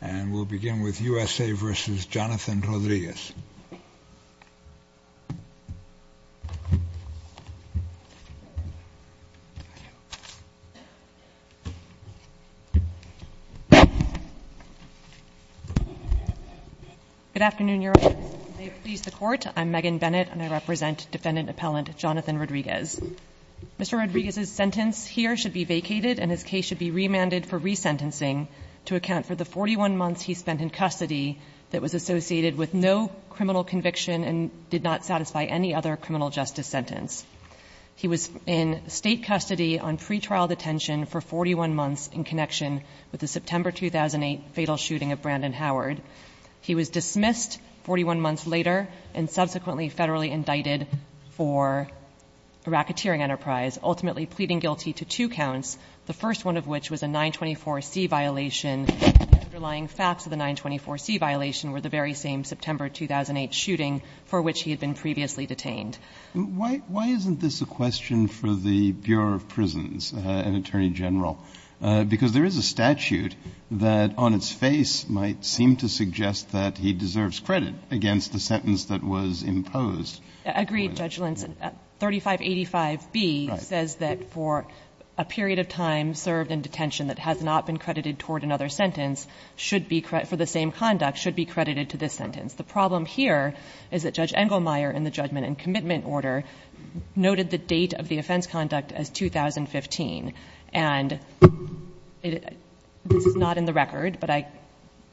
and we'll begin with U.S.A. v. Jonathan Rodriguez. Good afternoon, Your Honor. May it please the Court, I'm Megan Bennett and I represent Defendant Appellant Jonathan Rodriguez. Mr. Rodriguez's sentence here should be vacated and his case should be remanded for resentencing to account for the 41 months he spent in custody that was associated with no criminal conviction and did not satisfy any other criminal justice sentence. He was in State custody on pretrial detention for 41 months in connection with the September 2008 fatal shooting of Brandon Howard. He was dismissed 41 months later and subsequently federally indicted for racketeering enterprise, ultimately pleading guilty to two counts, the first one of which was a 924C violation. The underlying facts of the 924C violation were the very same September 2008 shooting for which he had been previously detained. Why isn't this a question for the Bureau of Prisons and Attorney General? Because there is a statute that on its face might seem to suggest that he deserves credit against the sentence that was imposed. Agreed, Judge Lentz. 3585B says that for a period of time served in detention that has not been credited toward another sentence should be, for the same conduct, should be credited to this sentence. The problem here is that Judge Engelmeyer in the judgment and commitment order noted the date of the offense conduct as 2015. And this is not in the record, but I –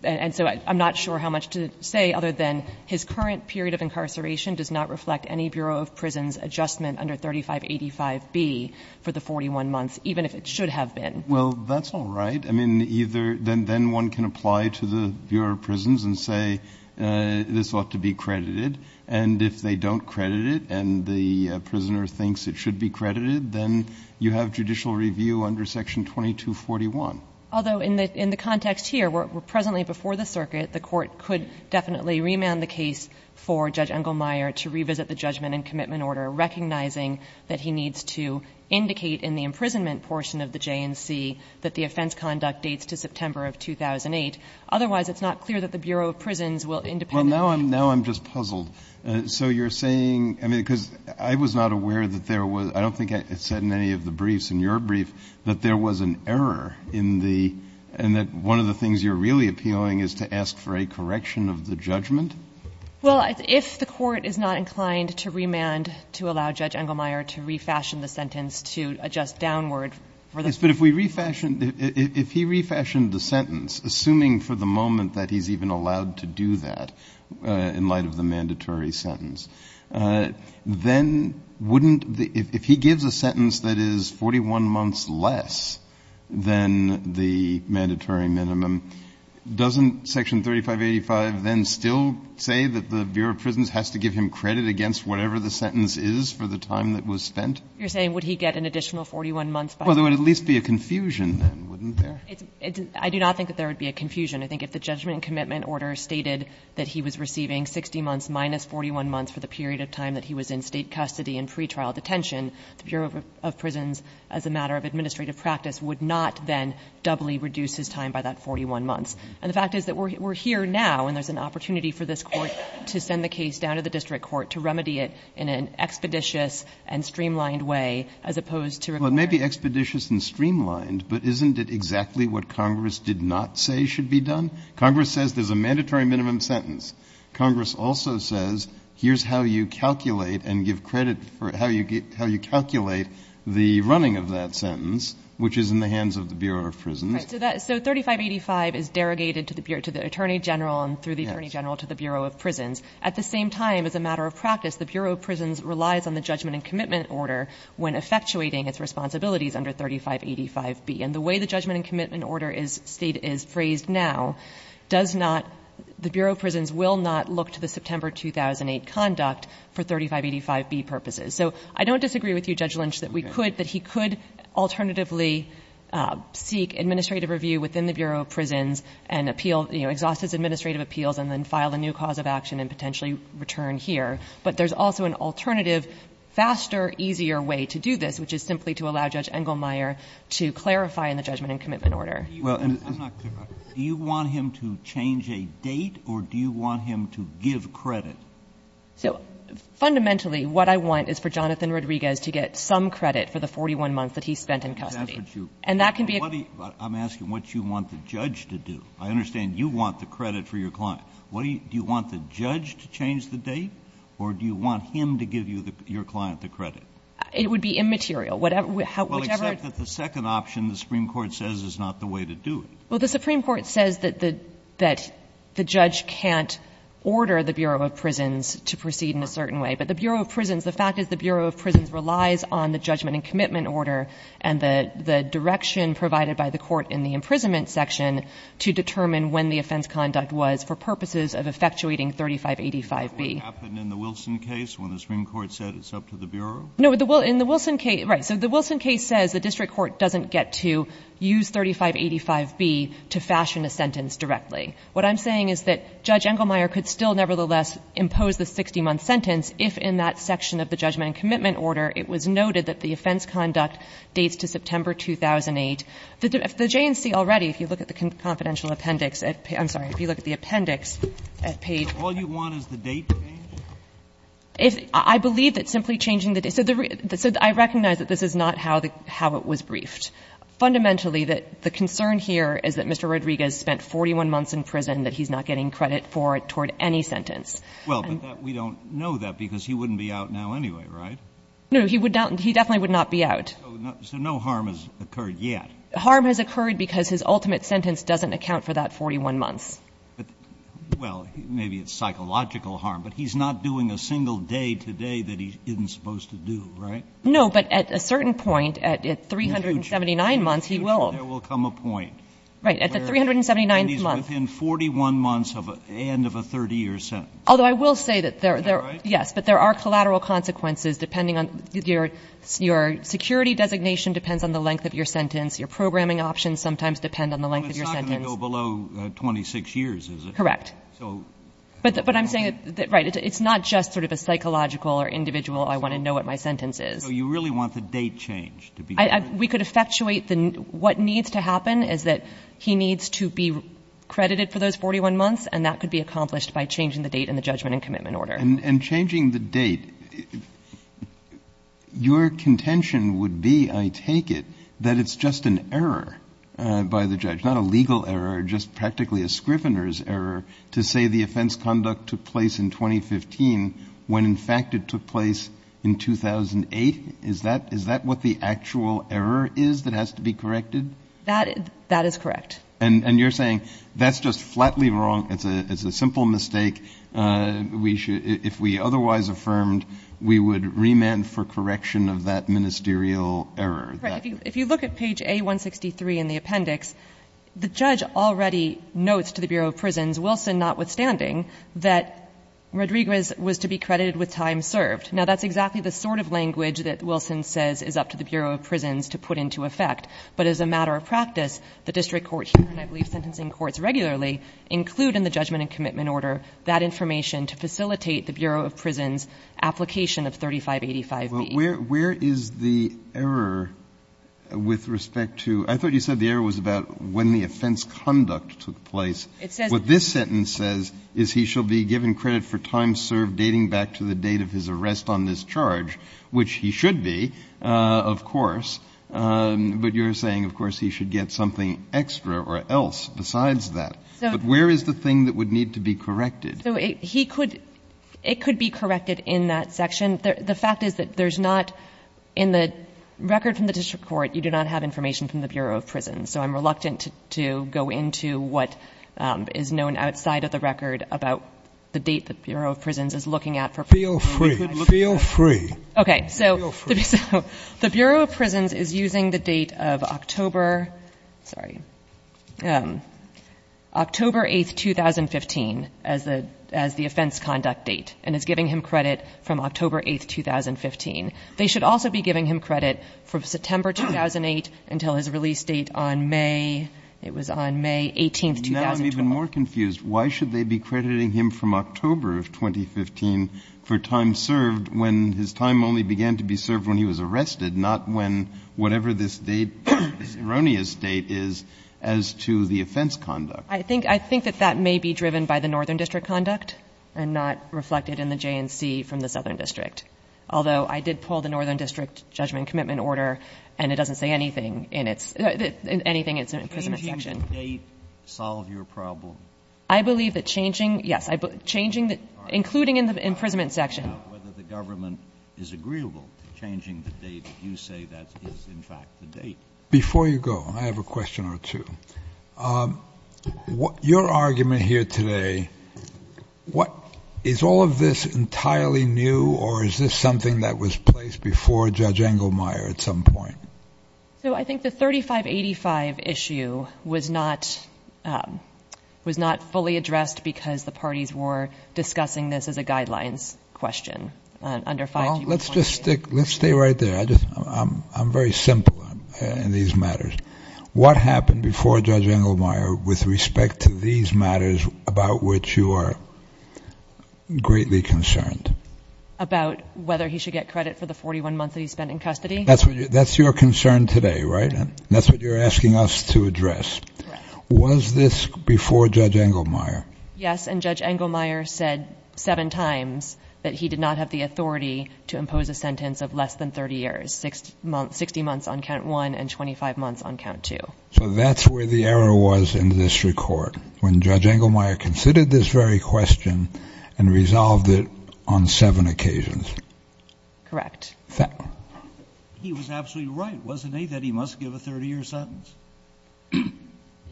and so I'm not sure how much to say other than his current period of incarceration does not reflect any Bureau of Prisons adjustment under 3585B for the 41 months, even if it should have been. Well, that's all right. I mean, either – then one can apply to the Bureau of Prisons and say this ought to be credited, and if they don't credit it and the prisoner thinks it should be credited, then you have judicial review under section 2241. Although in the context here, we're presently before the circuit. The Court could definitely remand the case for Judge Engelmeyer to revisit the judgment and commitment order, recognizing that he needs to indicate in the imprisonment portion of the J&C that the offense conduct dates to September of 2008. Otherwise, it's not clear that the Bureau of Prisons will independently – Well, now I'm – now I'm just puzzled. So you're saying – I mean, because I was not aware that there was – I don't think it's said in any of the briefs, in your brief, that there was an error in the – and that one of the things you're really appealing is to ask for a correction of the judgment? Well, if the Court is not inclined to remand to allow Judge Engelmeyer to refashion the sentence to adjust downward for the – Yes, but if we refashion – if he refashioned the sentence, assuming for the moment that he's even allowed to do that in light of the mandatory sentence, then wouldn't the – if he gives a sentence that is 41 months less than the mandatory minimum, doesn't section 3585 then still say that the Bureau of Prisons has to give him credit against whatever the sentence is for the time that was spent? You're saying would he get an additional 41 months by – Well, there would at least be a confusion then, wouldn't there? I do not think that there would be a confusion. I think if the judgment and commitment order stated that he was receiving 60 months minus 41 months for the period of time that he was in State custody in pretrial detention, the Bureau of Prisons, as a matter of administrative practice, would not then doubly reduce his time by that 41 months. And the fact is that we're here now and there's an opportunity for this Court to send the case down to the district court to remedy it in an expeditious and streamlined way, as opposed to – Well, it may be expeditious and streamlined, but isn't it exactly what Congress did not say should be done? Congress says there's a mandatory minimum sentence. Congress also says here's how you calculate and give credit for – how you calculate the running of that sentence, which is in the hands of the Bureau of Prisons. Right. So that – so 3585 is derogated to the Attorney General and through the Attorney General to the Bureau of Prisons. At the same time, as a matter of practice, the Bureau of Prisons relies on the judgment and commitment order when effectuating its responsibilities under 3585B. And the way the judgment and commitment order is phrased now does not – the Bureau of Prisons will not look to the September 2008 conduct for 3585B purposes. So I don't disagree with you, Judge Lynch, that we could – that he could alternatively seek administrative review within the Bureau of Prisons and appeal – exhaust his administrative appeals and then file a new cause of action and potentially return here, but there's also an alternative, faster, easier way to do this, which is simply to allow Judge Engelmeyer to clarify in the judgment and commitment order. Roberts. Do you want him to change a date or do you want him to give credit? So fundamentally, what I want is for Jonathan Rodriguez to get some credit for the 41 months that he spent in custody. And that can be a – I'm asking what you want the judge to do. I understand you want the credit for your client. What do you – do you want the judge to change the date or do you want him to give you – your client the credit? It would be immaterial. Whichever – Well, except that the second option the Supreme Court says is not the way to do it. Well, the Supreme Court says that the judge can't order the Bureau of Prisons to proceed in a certain way, but the Bureau of Prisons – the fact is the Bureau of Prisons relies on the judgment and commitment order and the direction provided by the court in the imprisonment section to determine when the offense conduct was for purposes of effectuating 3585B. Did that happen in the Wilson case when the Supreme Court said it's up to the Bureau? No. In the Wilson case – right. So the Wilson case says the district court doesn't get to use 3585B to fashion a sentence directly. What I'm saying is that Judge Engelmeyer could still nevertheless impose the 60-month sentence if in that section of the judgment and commitment order it was noted that the offense conduct dates to September 2008. The J&C already, if you look at the confidential appendix at – I'm sorry. If you look at the appendix at page – So all you want is the date changed? I believe that simply changing the date – so I recognize that this is not how it was briefed. Fundamentally, the concern here is that Mr. Rodriguez spent 41 months in prison, that he's not getting credit for it toward any sentence. Well, but we don't know that because he wouldn't be out now anyway, right? No. So he would not – he definitely would not be out. So no harm has occurred yet? Harm has occurred because his ultimate sentence doesn't account for that 41 months. Well, maybe it's psychological harm, but he's not doing a single day today that he isn't supposed to do, right? No, but at a certain point, at 379 months, he will. In the future, there will come a point. Right. At the 379th month. And he's within 41 months of an end of a 30-year sentence. Although I will say that there are – Is that right? Your sentence is depending on – your security designation depends on the length of your sentence. Your programming options sometimes depend on the length of your sentence. Well, it's not going to go below 26 years, is it? Correct. So – But I'm saying – right. It's not just sort of a psychological or individual, I want to know what my sentence is. So you really want the date change to be different? We could effectuate the – what needs to happen is that he needs to be credited for those 41 months, and that could be accomplished by changing the date in the judgment and commitment order. And changing the date, your contention would be, I take it, that it's just an error by the judge, not a legal error, just practically a Scrivener's error to say the offense conduct took place in 2015 when, in fact, it took place in 2008? Is that what the actual error is that has to be corrected? That is correct. And you're saying that's just flatly wrong, it's a simple mistake, we should – if we otherwise affirmed, we would remand for correction of that ministerial error? Right. If you look at page A163 in the appendix, the judge already notes to the Bureau of Prisons, Wilson notwithstanding, that Rodriguez was to be credited with time served. Now, that's exactly the sort of language that Wilson says is up to the Bureau of Prisons to put into effect. But as a matter of practice, the district courts, and I believe sentencing courts regularly, include in the judgment and commitment order that information to facilitate the Bureau of Prisons' application of 3585B. Well, where is the error with respect to – I thought you said the error was about when the offense conduct took place. It says – What this sentence says is he shall be given credit for time served dating back to the date of his arrest on this charge, which he should be, of course, but you're saying, of course, he should get something extra or else besides that. But where is the thing that would need to be corrected? So he could – it could be corrected in that section. The fact is that there's not – in the record from the district court, you do not have information from the Bureau of Prisons. So I'm reluctant to go into what is known outside of the record about the date the Bureau of Prisons is looking at for – Feel free. Feel free. Okay. Feel free. So the Bureau of Prisons is using the date of October – sorry – October 8th, 2015 as the – as the offense conduct date and is giving him credit from October 8th, 2015. They should also be giving him credit from September 2008 until his release date on May – it was on May 18th, 2012. Now I'm even more confused. Why should they be crediting him from October of 2015 for time served when his time only began to be served when he was arrested, not when whatever this date – this erroneous date is as to the offense conduct? I think – I think that that may be driven by the northern district conduct and not reflected in the J&C from the southern district. Although I did pull the northern district judgment and commitment order and it doesn't say anything in its – anything in its imprisonment section. Can changing the date solve your problem? I believe that changing – yes. Changing the – including in the imprisonment section. It's about whether the government is agreeable to changing the date. You say that is in fact the date. Before you go, I have a question or two. Your argument here today, what – is all of this entirely new or is this something that was placed before Judge Engelmeyer at some point? So I think the 3585 issue was not – was not fully addressed because the parties were discussing this as a guidelines question. Well, let's just stick – let's stay right there. I'm very simple in these matters. What happened before Judge Engelmeyer with respect to these matters about which you are greatly concerned? About whether he should get credit for the 41 months that he spent in custody? That's your concern today, right? That's what you're asking us to address. Was this before Judge Engelmeyer? Yes, and Judge Engelmeyer said seven times that he did not have the authority to impose a sentence of less than 30 years, 60 months on count one and 25 months on count two. So that's where the error was in this record, when Judge Engelmeyer considered this very question and resolved it on seven occasions. Correct. He was absolutely right, wasn't he, that he must give a 30-year sentence?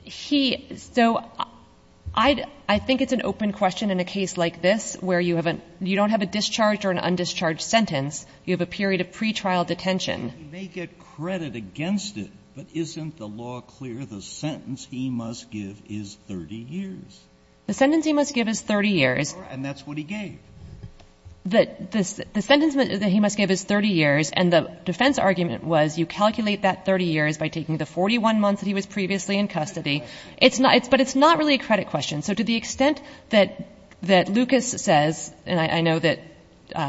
He – so I think it's an open question in a case like this where you have a – you don't have a discharged or an undischarged sentence. You have a period of pretrial detention. He may get credit against it, but isn't the law clear? The sentence he must give is 30 years. The sentence he must give is 30 years. And that's what he gave. The sentence that he must give is 30 years, and the defense argument was you calculate that 30 years by taking the 41 months that he was previously in custody. It's not – but it's not really a credit question. So to the extent that Lucas says – and I know that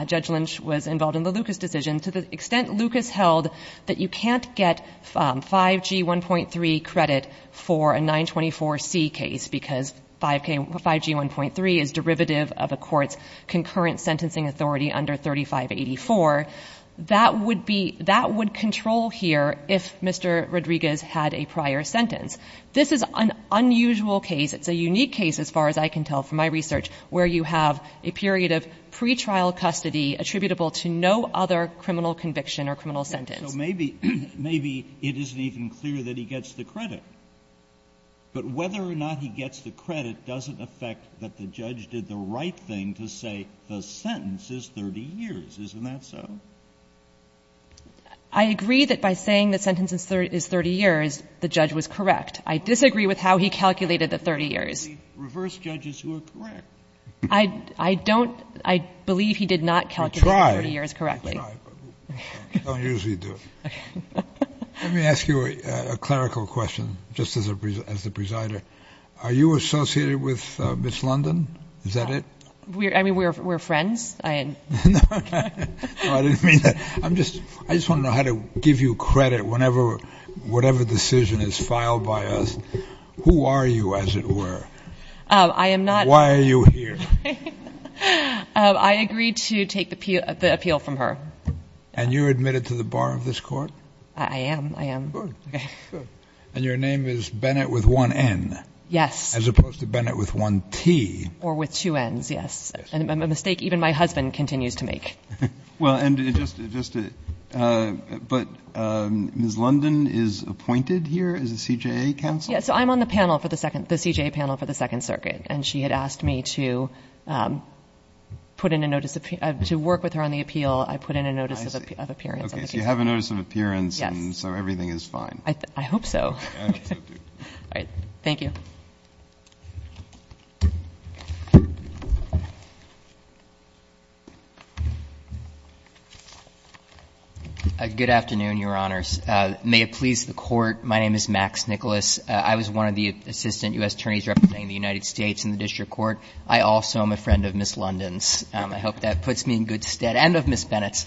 Judge Lynch was involved in the Lucas decision – to the extent Lucas held that you can't get 5G1.3 credit for a 924C case because 5G1.3 is derivative of a court's concurrent sentencing authority under 3584, that would be – that would control here if Mr. Rodriguez had a prior sentence. This is an unusual case. It's a unique case, as far as I can tell from my research, where you have a period of pretrial custody attributable to no other criminal conviction or criminal sentence. Roberts. So maybe – maybe it isn't even clear that he gets the credit. But whether or not he gets the credit doesn't affect that the judge did the right thing to say the sentence is 30 years. Isn't that so? I agree that by saying the sentence is 30 years, the judge was correct. I disagree with how he calculated the 30 years. He reversed judges who are correct. I don't – I believe he did not calculate the 30 years correctly. He tried. He tried. He don't usually do it. Okay. Let me ask you a clerical question, just as a – as the presider. Are you associated with Miss London? Is that it? I mean, we're friends. I – No, I didn't mean that. I'm just – I just want to know how to give you credit whenever – whatever decision is filed by us. Who are you, as it were? I am not – Why are you here? I agreed to take the appeal from her. And you're admitted to the bar of this court? I am. I am. Good. And your name is Bennett with one N. Yes. As opposed to Bennett with one T. Or with two N's. Yes. And a mistake even my husband continues to make. Well, and just to – but Miss London is appointed here as a CJA counsel? Yes. So I'm on the panel for the second – the CJA panel for the Second Circuit. And she had asked me to put in a notice of – to work with her on the appeal. I put in a notice of appearance. Okay. So you have a notice of appearance. Yes. And so everything is fine. I hope so. I hope so, too. All right. Thank you. Good afternoon, Your Honors. May it please the Court, my name is Max Nicholas. I was one of the assistant U.S. attorneys representing the United States in the district court. I also am a friend of Miss London's. I hope that puts me in good stead. And of Miss Bennett's.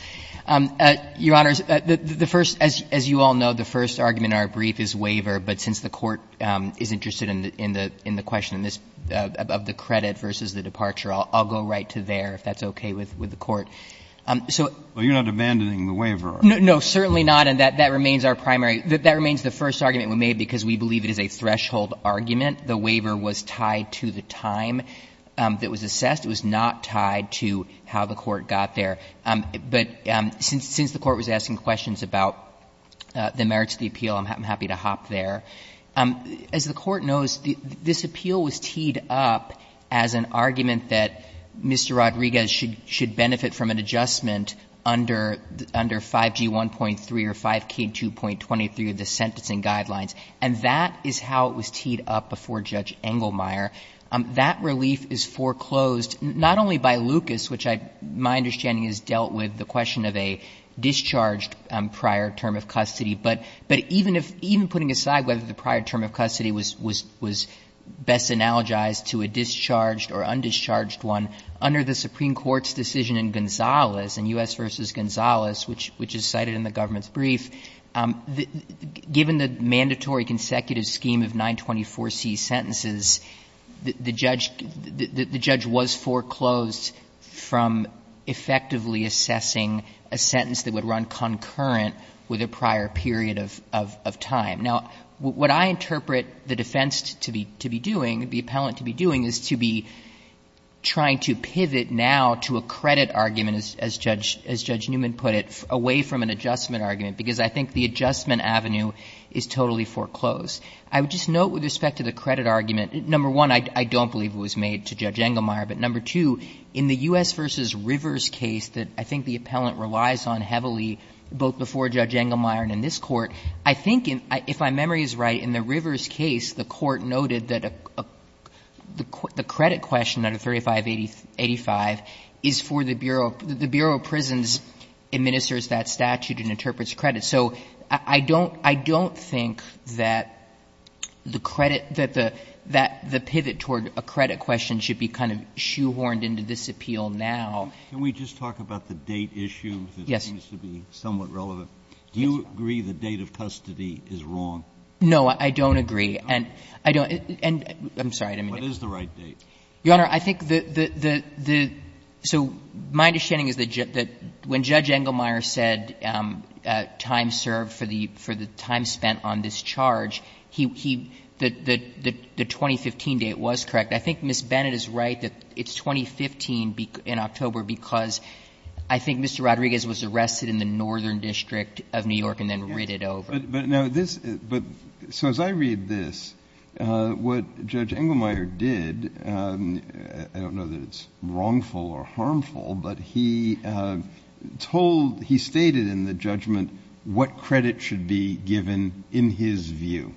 Your Honors, the first – as you all know, the first argument in our brief is waiver. But since the Court is interested in the question of the credit versus the departure, I'll go right to there, if that's okay with the Court. So — Well, you're not abandoning the waiver. No, certainly not. And that remains our primary – that remains the first argument we made because we believe it is a threshold argument. The waiver was tied to the time that was assessed. It was not tied to how the Court got there. But since the Court was asking questions about the merits of the appeal, I'm happy to hop there. As the Court knows, this appeal was teed up as an argument that Mr. Rodriguez should benefit from an adjustment under 5G1.3 or 5K2.23 of the sentencing guidelines. And that is how it was teed up before Judge Engelmeyer. That relief is foreclosed not only by Lucas, which I – my understanding is dealt with the question of a discharged prior term of custody, but even if – even putting aside whether the prior term of custody was best analogized to a discharged or undischarged one, under the Supreme Court's decision in Gonzales, in U.S. v. Gonzales, which is cited in the government's brief, given the mandatory consecutive scheme of 924C sentences, the judge – the judge was foreclosed from effectively assessing a sentence that would run concurrent with a prior period of time. Now, what I interpret the defense to be doing, the appellant to be doing, is to be trying to pivot now to a credit argument, as Judge – as Judge Newman put it, away from an adjustment avenue is totally foreclosed. I would just note with respect to the credit argument, number one, I don't believe it was made to Judge Engelmeyer, but number two, in the U.S. v. Rivers case that I think the appellant relies on heavily, both before Judge Engelmeyer and in this Court, I think if my memory is right, in the Rivers case, the Court noted that the credit question under 3585 is for the Bureau – the Bureau of Prisons administers that statute and interprets credit. So I don't – I don't think that the credit – that the – that the pivot toward a credit question should be kind of shoehorned into this appeal now. Can we just talk about the date issue? Yes. It seems to be somewhat relevant. Do you agree the date of custody is wrong? No, I don't agree. And I don't – and I'm sorry. What is the right date? Your Honor, I think the – the – the – so my understanding is that when Judge Engelmeyer said time served for the – for the time spent on this charge, he – the – the 2015 date was correct. I think Ms. Bennett is right that it's 2015 in October because I think Mr. Rodriguez was arrested in the northern district of New York and then ridded over. But – but now this – but so as I read this, what Judge Engelmeyer did, I don't know that it's wrongful or harmful, but he told – he stated in the judgment what credit should be given in his view.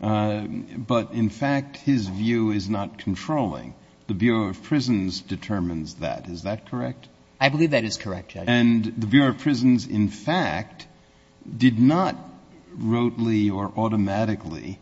But in fact, his view is not controlling. The Bureau of Prisons determines that. Is that correct? I believe that is correct, Judge. And the Bureau of Prisons, in fact, did not wrotely or automatically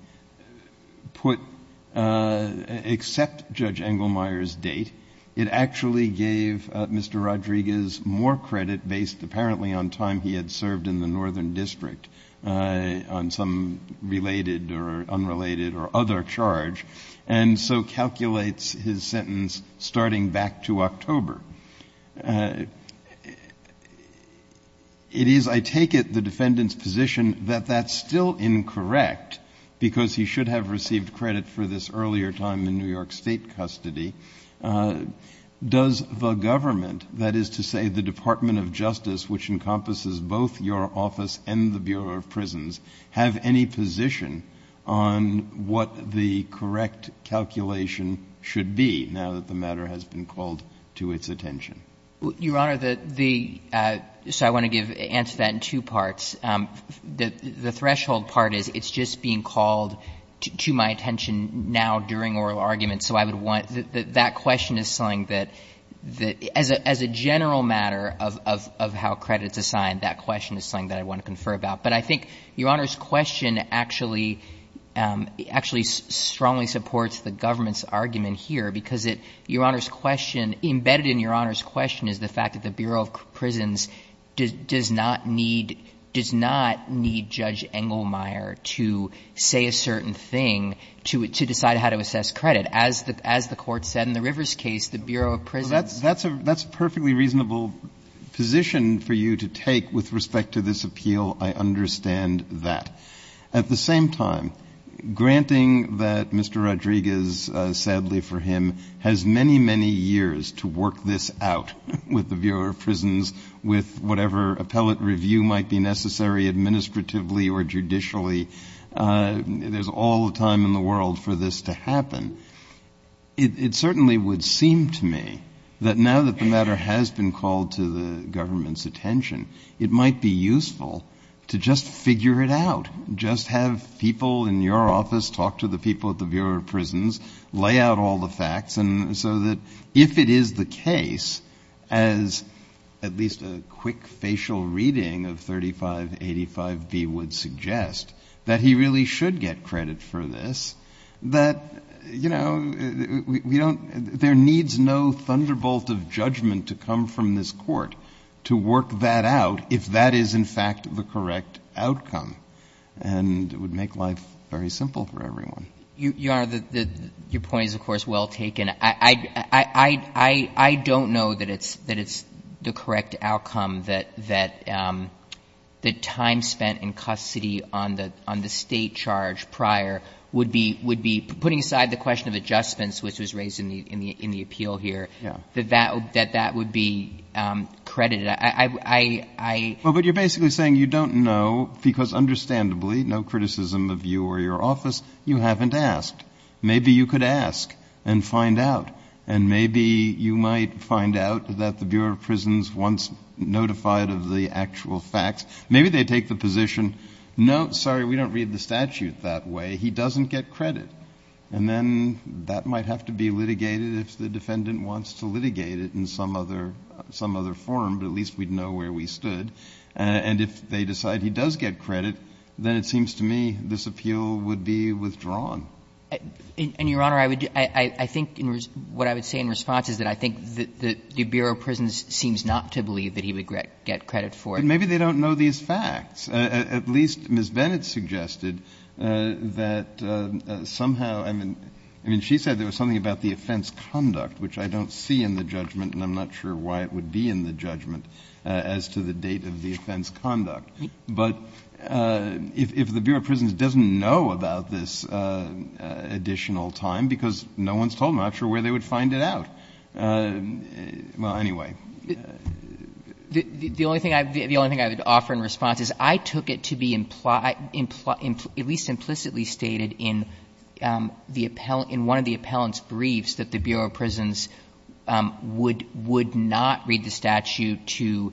put – accept Judge Engelmeyer's date. It actually gave Mr. Rodriguez more credit based apparently on time he had served in the northern district on some related or unrelated or other charge, and so calculates his sentence starting back to October. It is, I take it, the defendant's position that that's still incorrect because he should have received credit for this earlier time in New York State custody. Does the government, that is to say the Department of Justice, which encompasses both your office and the Bureau of Prisons, have any position on what the correct calculation should be now that the matter has been called to its attention? Your Honor, the – so I want to give – answer that in two parts. The threshold part is it's just being called to my attention now during oral argument, so I would want – that question is something that – as a general matter of how credit is assigned, that question is something that I want to confer about. But I think Your Honor's question actually – actually strongly supports the government's argument here because it – Your Honor's question – embedded in Your Honor's question is the fact that the Bureau of Prisons does not need – does not need Judge Engelmeyer to say a certain thing to decide how to assess credit. As the court said in the Rivers case, the Bureau of Prisons – Well, that's a perfectly reasonable position for you to take with respect to this At the same time, granting that Mr. Rodriguez, sadly for him, has many, many years to work this out with the Bureau of Prisons, with whatever appellate review might be necessary administratively or judicially, there's all the time in the world for this to happen. It certainly would seem to me that now that the matter has been called to the government's attention, it might be useful to just figure it out, just have people in your office talk to the people at the Bureau of Prisons, lay out all the facts, and so that if it is the case, as at least a quick facial reading of 3585B would suggest, that he really should get credit for this, that, you know, we don't – there needs no thunderbolt of judgment to come from this court to work that out if that is, in fact, the correct outcome. And it would make life very simple for everyone. Your Honor, your point is, of course, well taken. I don't know that it's the correct outcome that the time spent in custody on the State charge prior would be – putting aside the question of adjustments, which was raised in the appeal here, that that would be credited. I – Well, but you're basically saying you don't know because, understandably, no criticism of you or your office, you haven't asked. Maybe you could ask and find out, and maybe you might find out that the Bureau of Prisons once notified of the actual facts, maybe they take the position, no, sorry, we don't read the statute that way, he doesn't get credit. And then that might have to be litigated if the defendant wants to litigate it in some other form, but at least we'd know where we stood. And if they decide he does get credit, then it seems to me this appeal would be withdrawn. And, Your Honor, I would – I think what I would say in response is that I think the Bureau of Prisons seems not to believe that he would get credit for it. But maybe they don't know these facts. At least Ms. Bennett suggested that somehow – I mean, she said there was something about the offense conduct, which I don't see in the judgment, and I'm not sure why it would be in the judgment as to the date of the offense conduct. But if the Bureau of Prisons doesn't know about this additional time, because no one's told them, I'm not sure where they would find it out. Well, anyway. The only thing I would offer in response is I took it to be at least implicitly stated in one of the appellant's briefs that the Bureau of Prisons would not read the statute to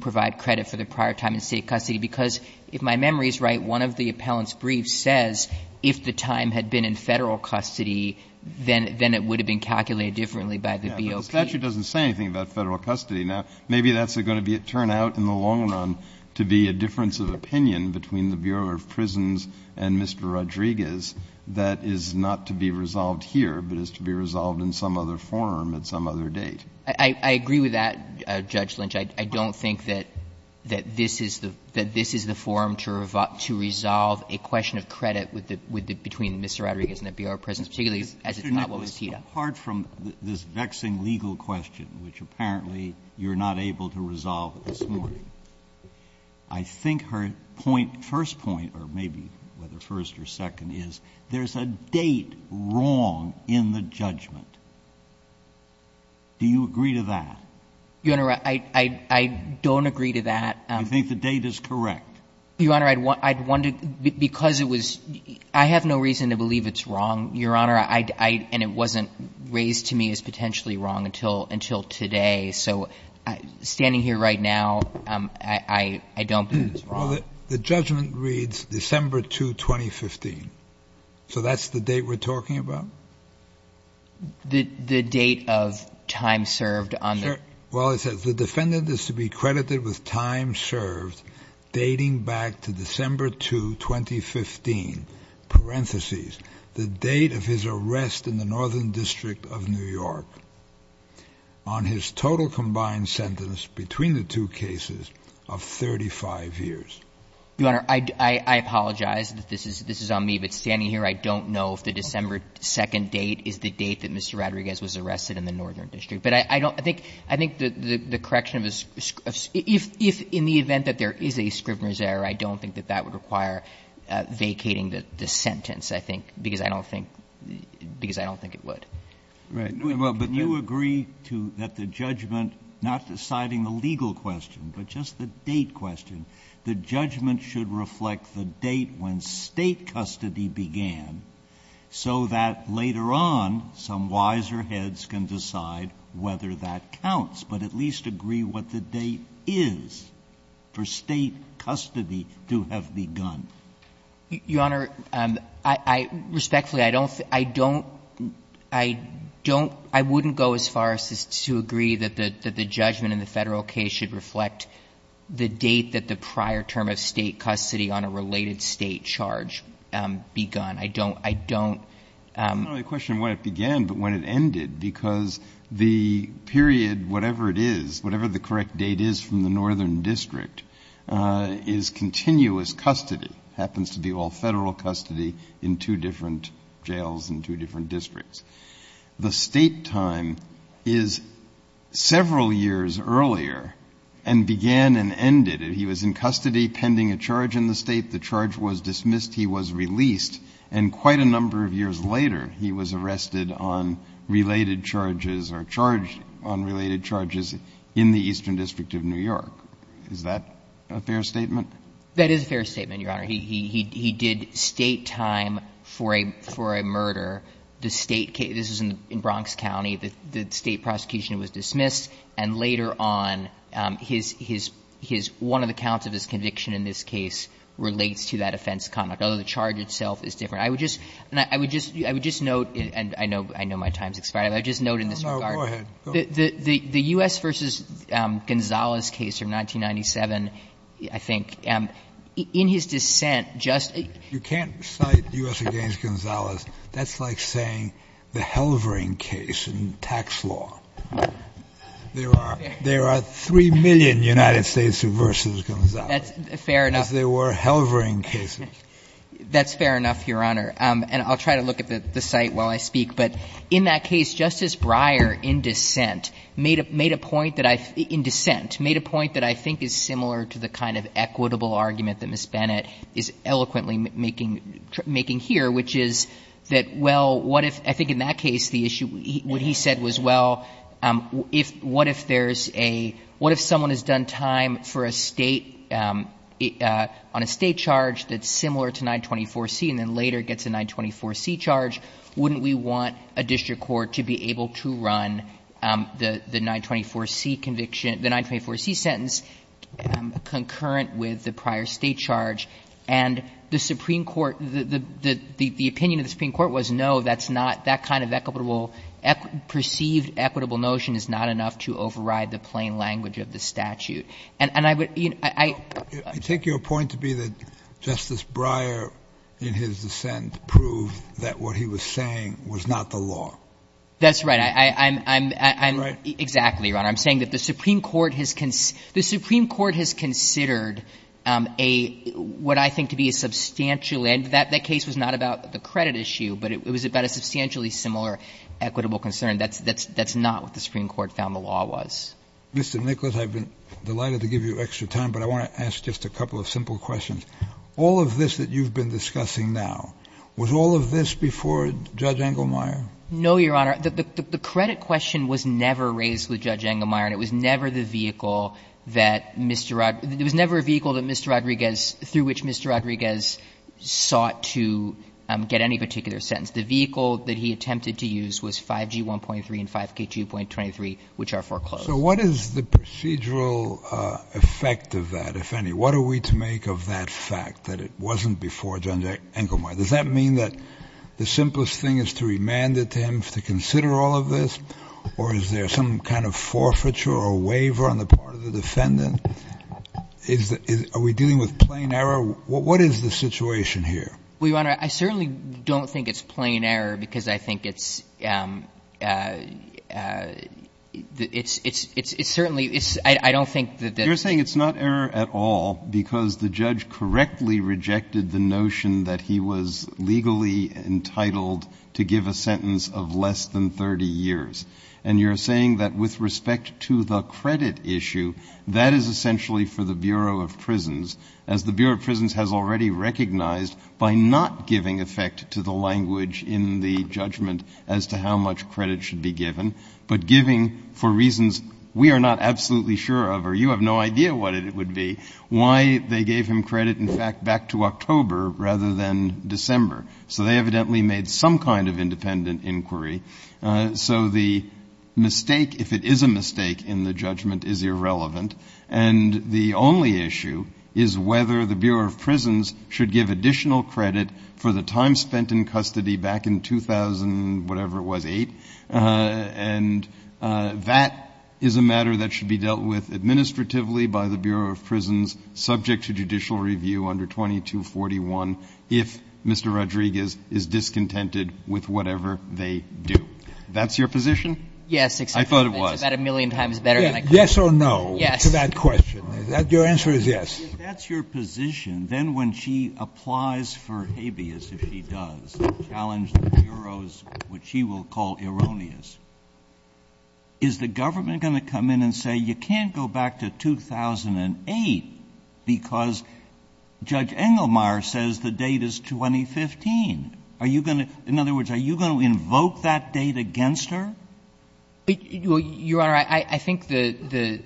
provide credit for the prior time in State custody, because if my memory is right, one of the appellant's briefs says if the time had been in Federal custody, then it would have been calculated differently by the BOP. The statute doesn't say anything about Federal custody. Now, maybe that's going to turn out in the long run to be a difference of opinion between the Bureau of Prisons and Mr. Rodriguez that is not to be resolved here, but is to be resolved in some other forum at some other date. I agree with that, Judge Lynch. I don't think that this is the forum to resolve a question of credit between Mr. Rodriguez and the Bureau of Prisons, particularly as it's not what was tied up. But apart from this vexing legal question, which apparently you're not able to resolve this morning, I think her point, first point, or maybe whether first or second, is there's a date wrong in the judgment. Do you agree to that? Your Honor, I don't agree to that. I think the date is correct. Your Honor, I'd want to, because it was, I have no reason to believe it's wrong, Your Honor, and it wasn't raised to me as potentially wrong until today. So standing here right now, I don't think it's wrong. Well, the judgment reads December 2, 2015. So that's the date we're talking about? The date of time served. Well, it says the defendant is to be credited with time served dating back to December 2, 2015, parentheses, the date of his arrest in the Northern District of New York on his total combined sentence between the two cases of 35 years. Your Honor, I apologize that this is on me. But standing here, I don't know if the December 2 date is the date that Mr. Rodriguez was arrested in the Northern District. But I don't, I think the correction of, if in the event that there is a Scrivner's I don't think that that would require vacating the sentence, I think, because I don't think, because I don't think it would. Well, but you agree to, that the judgment, not deciding the legal question, but just the date question, the judgment should reflect the date when State custody began, so that later on some wiser heads can decide whether that counts, but at least agree what the date is for State custody to have begun. Your Honor, I respectfully, I don't, I don't, I wouldn't go as far as to agree that the judgment in the Federal case should reflect the date that the prior term of State custody on a related State charge begun. I don't, I don't. It's not only a question of when it began, but when it ended, because the period, whatever it is, whatever the correct date is from the Northern District, is continuous custody, happens to be all Federal custody in two different jails in two different districts. The State time is several years earlier and began and ended. He was in custody pending a charge in the State. The charge was dismissed. He was released. And quite a number of years later, he was arrested on related charges or charged on related charges in the Eastern District of New York. Is that a fair statement? That is a fair statement, Your Honor. He, he, he did State time for a, for a murder. The State case, this is in Bronx County, the State prosecution was dismissed, and later on his, his, his, one of the counts of his conviction in this case relates to that offense conduct. Although the charge itself is different. I would just, I would just, I would just note, and I know, I know my time's expired, but I would just note in this regard. No, no. Go ahead. The, the, the U.S. v. Gonzales case from 1997, I think, in his dissent, just. You can't cite U.S. v. Gonzales. That's like saying the Halvering case in tax law. There are, there are 3 million United States v. Gonzales. That's fair enough. Because there were Halvering cases. That's fair enough, Your Honor. And I'll try to look at the, the site while I speak. But in that case, Justice Breyer, in dissent, made a, made a point that I, in dissent, made a point that I think is similar to the kind of equitable argument that Ms. Bennett is eloquently making, making here, which is that, well, what if, I think in that case, the issue, what he said was, well, if, what if there's a, what if someone has done time for a State, on a State charge that's similar to 924C and then later gets a 924C charge, wouldn't we want a district court to be able to run the, the 924C conviction, the 924C sentence concurrent with the prior State charge? And the Supreme Court, the, the, the opinion of the Supreme Court was, no, that's not, that kind of equitable, perceived equitable notion is not enough to override the plain language of the statute. And, and I would, you know, I, I. I take your point to be that Justice Breyer, in his dissent, proved that what he was saying was not the law. That's right. I, I, I'm, I'm. Right? Exactly, Your Honor. I'm saying that the Supreme Court has, the Supreme Court has considered a, what I think to be a substantial, and that, that case was not about the credit issue, but it was about a substantially similar equitable concern. That's, that's, that's not what the Supreme Court found the law was. Mr. Nicholas, I've been delighted to give you extra time, but I want to ask just a couple of simple questions. All of this that you've been discussing now, was all of this before Judge Engelmeyer? No, Your Honor. The, the, the credit question was never raised with Judge Engelmeyer, and it was never the vehicle that Mr. Rod, it was never a vehicle that Mr. Rodriguez, through which Mr. Rodriguez sought to get any particular sentence. The vehicle that he attempted to use was 5G 1.3 and 5K 2.23, which are foreclosed. So what is the procedural effect of that, if any? What are we to make of that fact, that it wasn't before Judge Engelmeyer? Does that mean that the simplest thing is to remand it to him to consider all of this? Or is there some kind of forfeiture or waiver on the part of the defendant? Is the, is, are we dealing with plain error? What, what is the situation here? Well, Your Honor, I certainly don't think it's plain error, because I think it's, it's, it's, it's certainly, it's, I, I don't think that the. You're saying it's not error at all, because the judge correctly rejected the notion that he was legally entitled to give a sentence of less than 30 years. And you're saying that with respect to the credit issue, that is essentially for the Bureau of Prisons, as the Bureau of Prisons has already recognized by not giving effect to the language in the judgment as to how much credit should be given, but giving for reasons we are not absolutely sure of or you have no idea what it would be, why they gave him credit, in fact, back to October rather than December. So they evidently made some kind of independent inquiry. So the mistake, if it is a mistake in the judgment, is irrelevant. And the only issue is whether the Bureau of Prisons should give additional credit for the time spent in custody back in 2000, whatever it was, eight. And that is a matter that should be dealt with administratively by the Bureau of Prisons subject to judicial review under 2241 if Mr. Rodriguez is discontented with whatever they do. That's your position? Yes. It's about a million times better than I thought. Yes or no to that question? Yes. Your answer is yes. If that's your position, then when she applies for habeas, if she does, challenge the bureaus, which she will call erroneous, is the government going to come in and say you can't go back to 2008 because Judge Engelmeyer says the date is 2015? Are you going to — in other words, are you going to invoke that date against her? Well, Your Honor, I think the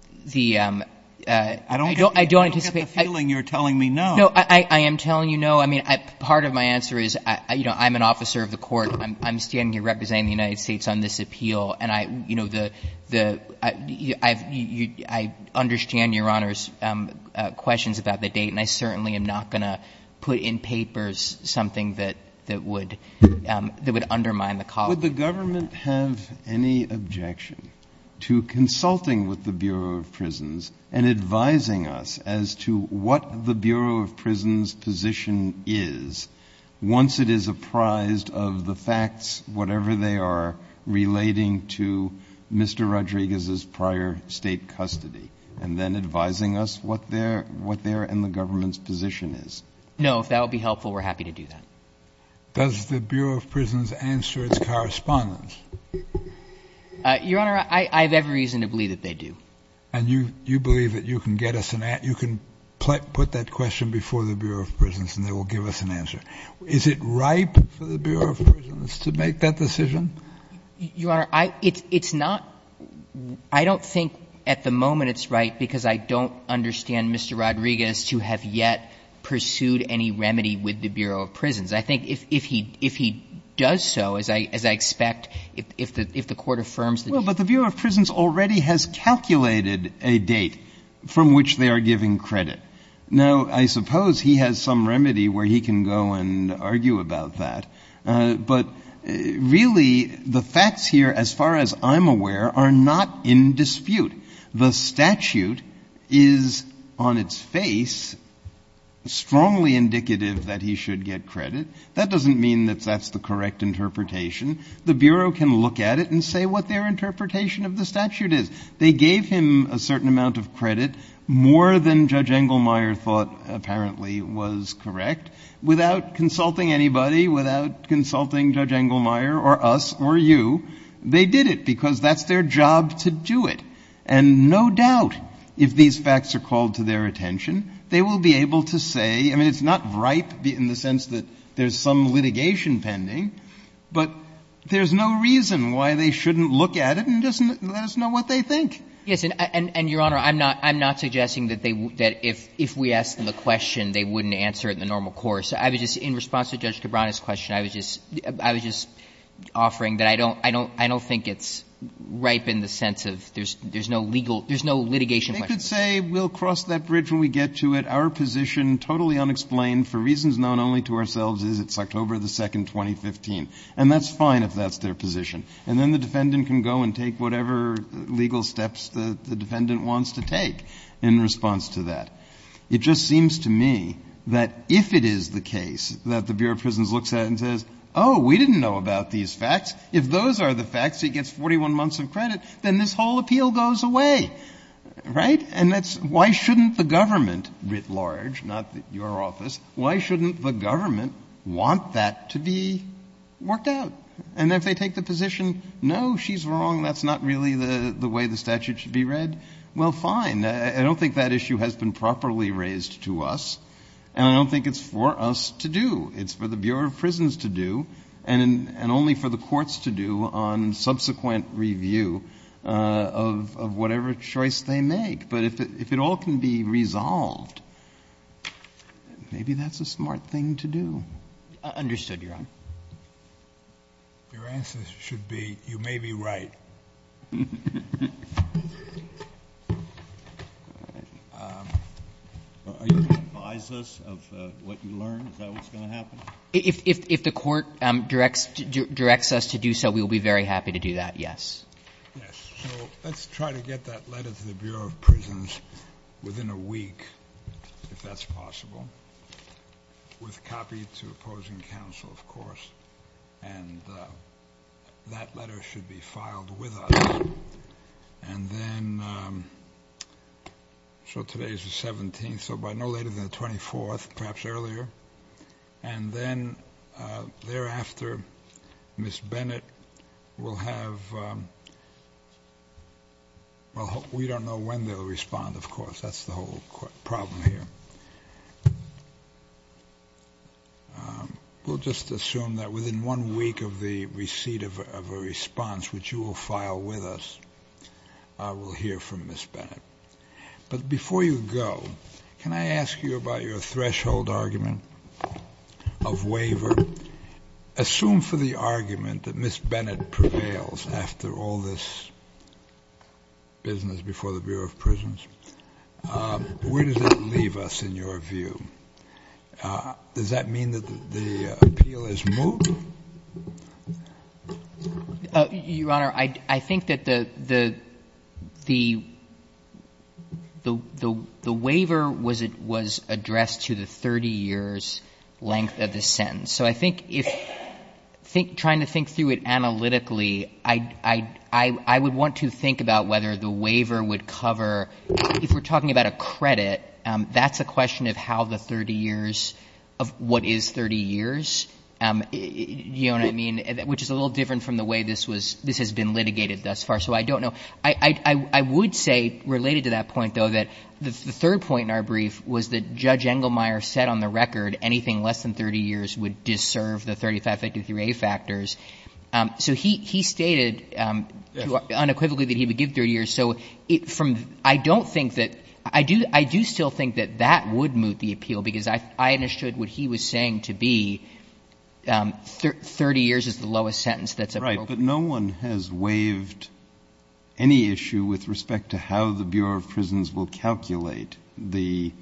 — I don't anticipate — I don't get the feeling you're telling me no. No, I am telling you no. I mean, part of my answer is, you know, I'm an officer of the court. I'm standing here representing the United States on this appeal. And I, you know, the — I understand Your Honor's questions about the date, and I certainly am not going to put in papers something that would undermine the call. Would the government have any objection to consulting with the Bureau of Prisons and advising us as to what the Bureau of Prisons' position is once it is apprised of the facts, whatever they are, relating to Mr. Rodriguez's prior state custody, and then advising us what their — what their and the government's position is? No. If that would be helpful, we're happy to do that. Does the Bureau of Prisons answer its correspondence? Your Honor, I have every reason to believe that they do. And you believe that you can get us an — you can put that question before the Bureau of Prisons and they will give us an answer. Is it right for the Bureau of Prisons to make that decision? Your Honor, I — it's not — I don't think at the moment it's right because I don't understand Mr. Rodriguez to have yet pursued any remedy with the Bureau of Prisons. I think if he — if he does so, as I — as I expect, if the — if the Court affirms the — Well, but the Bureau of Prisons already has calculated a date from which they are giving credit. Now, I suppose he has some remedy where he can go and argue about that. But really, the facts here, as far as I'm aware, are not in dispute. The statute is, on its face, strongly indicative that he should get credit. That doesn't mean that that's the correct interpretation. The Bureau can look at it and say what their interpretation of the statute is. They gave him a certain amount of credit, more than Judge Engelmeyer thought apparently was correct, without consulting anybody, without consulting Judge Engelmeyer or us or you. They did it because that's their job to do it. And no doubt, if these facts are called to their attention, they will be able to say — I mean, it's not ripe in the sense that there's some litigation pending, but there's no reason why they shouldn't look at it and just let us know what they think. Yes. And, Your Honor, I'm not — I'm not suggesting that they — that if — if we asked them the question, they wouldn't answer it in the normal course. I was just — in response to Judge Cabrera's question, I was just — I was just offering that I don't — I don't — I don't think it's ripe in the sense of there's — there's no legal — there's no litigation question. They could say we'll cross that bridge when we get to it. Our position, totally unexplained, for reasons known only to ourselves, is it's October 2, 2015. And that's fine if that's their position. And then the defendant can go and take whatever legal steps the defendant wants to take in response to that. It just seems to me that if it is the case that the Bureau of Prisons looks at it and says, oh, we didn't know about these facts, if those are the facts, he gets 41 months of credit, then this whole appeal goes away. Right? And that's — why shouldn't the government, writ large, not your office, why shouldn't the government want that to be worked out? And if they take the position, no, she's wrong, that's not really the way the statute should be read, well, fine. I don't think that issue has been properly raised to us, and I don't think it's for us to do. It's for the Bureau of Prisons to do, and only for the courts to do on subsequent review of whatever choice they make. But if it all can be resolved, maybe that's a smart thing to do. I understood, Your Honor. Your answer should be, you may be right. Are you going to advise us of what you learned, is that what's going to happen? If the court directs us to do so, we will be very happy to do that, yes. Yes. So let's try to get that letter to the Bureau of Prisons within a week, if that's possible, with a copy to opposing counsel, of course, and that letter should be filed with us. And then, so today's the 17th, so by no later than the 24th, perhaps earlier, and then thereafter, Ms. Bennett will have, well, we don't know when they'll respond, of course. That's the whole problem here. We'll just assume that within one week of the receipt of a response, which you will file with us, we'll hear from Ms. Bennett. But before you go, can I ask you about your threshold argument of waiver? Assume for the argument that Ms. Bennett prevails after all this business before the Bureau of Prisons. Where does that leave us, in your view? Does that mean that the appeal is moved? Your Honor, I think that the waiver was addressed to the 30 years length of the sentence. So I think if, trying to think through it analytically, I would want to think about whether the waiver would cover, if we're talking about a credit, that's a question of how the 30 years, of what is 30 years, you know what I mean, which is a little different from the way this was, this has been litigated thus far. So I don't know. I would say, related to that point, though, that the third point in our brief was that Judge Engelmeyer said on the record anything less than 30 years would deserve the 3553A factors. So he stated unequivocally that he would give 30 years. So from the — I don't think that — I do still think that that would move the appeal because I understood what he was saying to be 30 years is the lowest sentence that's appropriate. Right. But no one has waived any issue with respect to how the Bureau of Prisons will calculate the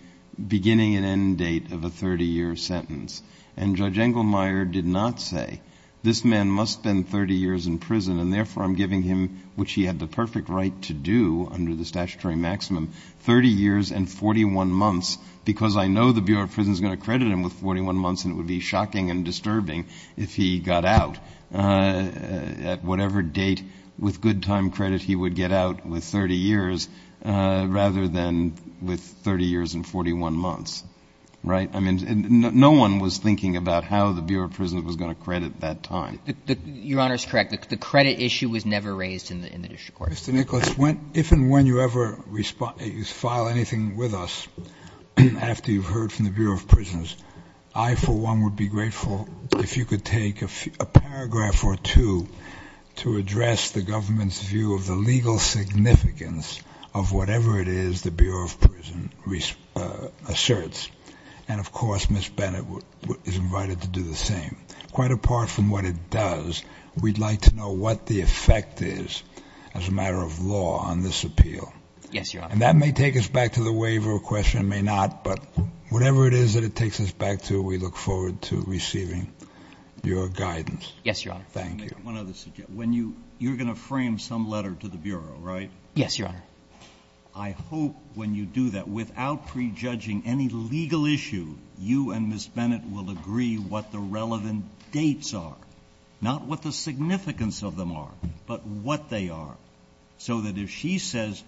beginning and end date of a 30-year sentence. And Judge Engelmeyer did not say, this man must spend 30 years in prison and therefore I'm giving him, which he had the perfect right to do under the statutory maximum, 30 years and 41 months because I know the Bureau of Prisons is going to credit him with 41 months and it would be shocking and disturbing if he got out at whatever date with good time credit he would get out with 30 years rather than with 30 years and 41 months. Right. I mean, no one was thinking about how the Bureau of Prisons was going to credit that time. Your Honor is correct. The credit issue was never raised in the district court. Mr. Nicholas, if and when you ever file anything with us after you've heard from the Bureau of Prisons, I for one would be grateful if you could take a paragraph or two to address the government's view of the legal significance of whatever it is the Bureau of Prisons asserts. And, of course, Ms. Bennett is invited to do the same. Quite apart from what it does, we'd like to know what the effect is as a matter of law on this appeal. Yes, Your Honor. And that may take us back to the waiver question. It may not. But whatever it is that it takes us back to, we look forward to receiving your guidance. Yes, Your Honor. Thank you. Let me make one other suggestion. When you're going to frame some letter to the Bureau, right? Yes, Your Honor. I hope when you do that, without prejudging any legal issue, you and Ms. Bennett will agree what the relevant dates are. Not what the significance of them are, but what they are. So that if she says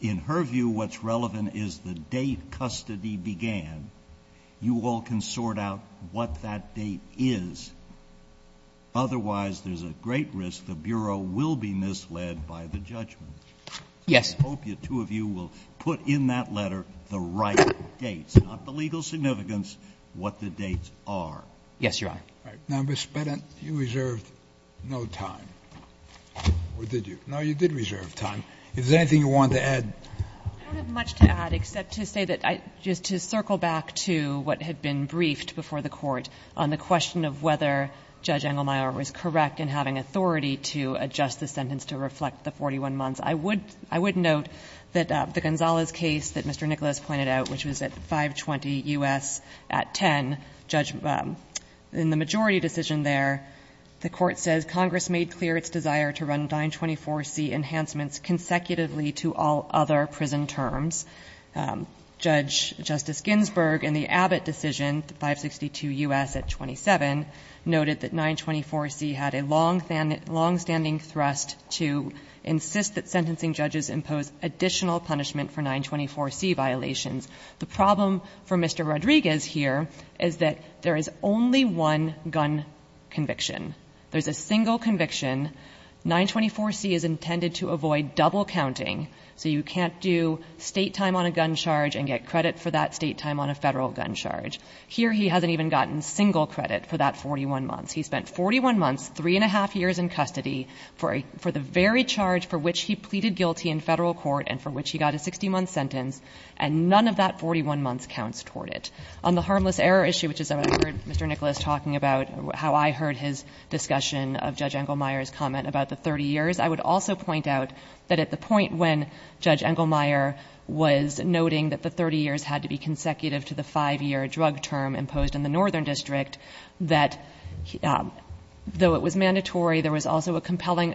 in her view what's relevant is the date custody began, you all can sort out what that date is. Otherwise, there's a great risk the Bureau will be misled by the judgment. Yes. I hope the two of you will put in that letter the right dates, not the legal significance, what the dates are. Yes, Your Honor. All right. Now, Ms. Bennett, you reserved no time. Or did you? No, you did reserve time. Is there anything you want to add? I don't have much to add except to say that I just to circle back to what had been briefed before the Court on the question of whether Judge Engelmeyer was correct in having authority to adjust the sentence to reflect the 41 months. I would note that the Gonzalez case that Mr. Nicholas pointed out, which was at 520 U.S. at 10, in the majority decision there, the Court says, Congress made clear its desire to run 924C enhancements consecutively to all other prison terms. Judge Justice Ginsburg, in the Abbott decision, 562 U.S. at 27, noted that 924C had a longstanding thrust to insist that sentencing judges impose additional punishment for 924C violations. The problem for Mr. Rodriguez here is that there is only one gun conviction. There's a single conviction. 924C is intended to avoid double counting, so you can't do State time on a gun charge and get credit for that State time on a Federal gun charge. Here he hasn't even gotten single credit for that 41 months. He spent 41 months, 3 1⁄2 years in custody for the very charge for which he pleaded guilty in Federal court and for which he got a 60-month sentence, and none of that 41 months counts toward it. On the harmless error issue, which is what I heard Mr. Nicholas talking about, how I heard his discussion of Judge Engelmeyer's comment about the 30 years, I would also point out that at the point when Judge Engelmeyer was noting that the 30 years had to be consecutive to the 5-year drug term imposed in the Northern District, that though it was mandatory, there was also a compelling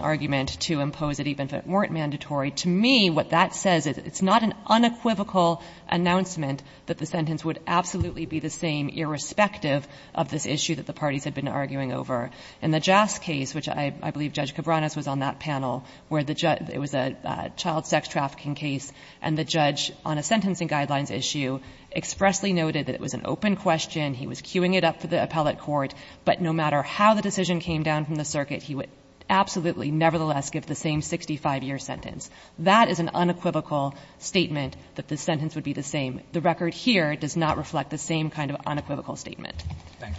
argument to impose it even if it weren't mandatory. To me, what that says is it's not an unequivocal announcement that the sentence would absolutely be the same irrespective of this issue that the parties had been arguing over. In the JAS case, which I believe Judge Cabranes was on that panel, where it was a child sex trafficking case, and the judge on a sentencing guidelines issue expressly noted that it was an open question, he was queuing it up for the appellate court, but no matter how the decision came down from the circuit, he would absolutely nevertheless give the same 65-year sentence. That is an unequivocal statement that the sentence would be the same. The record here does not reflect the same kind of unequivocal statement. Thank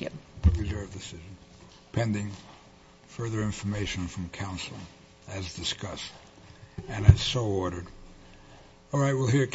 you. ...pending further information from counsel as discussed and as so ordered.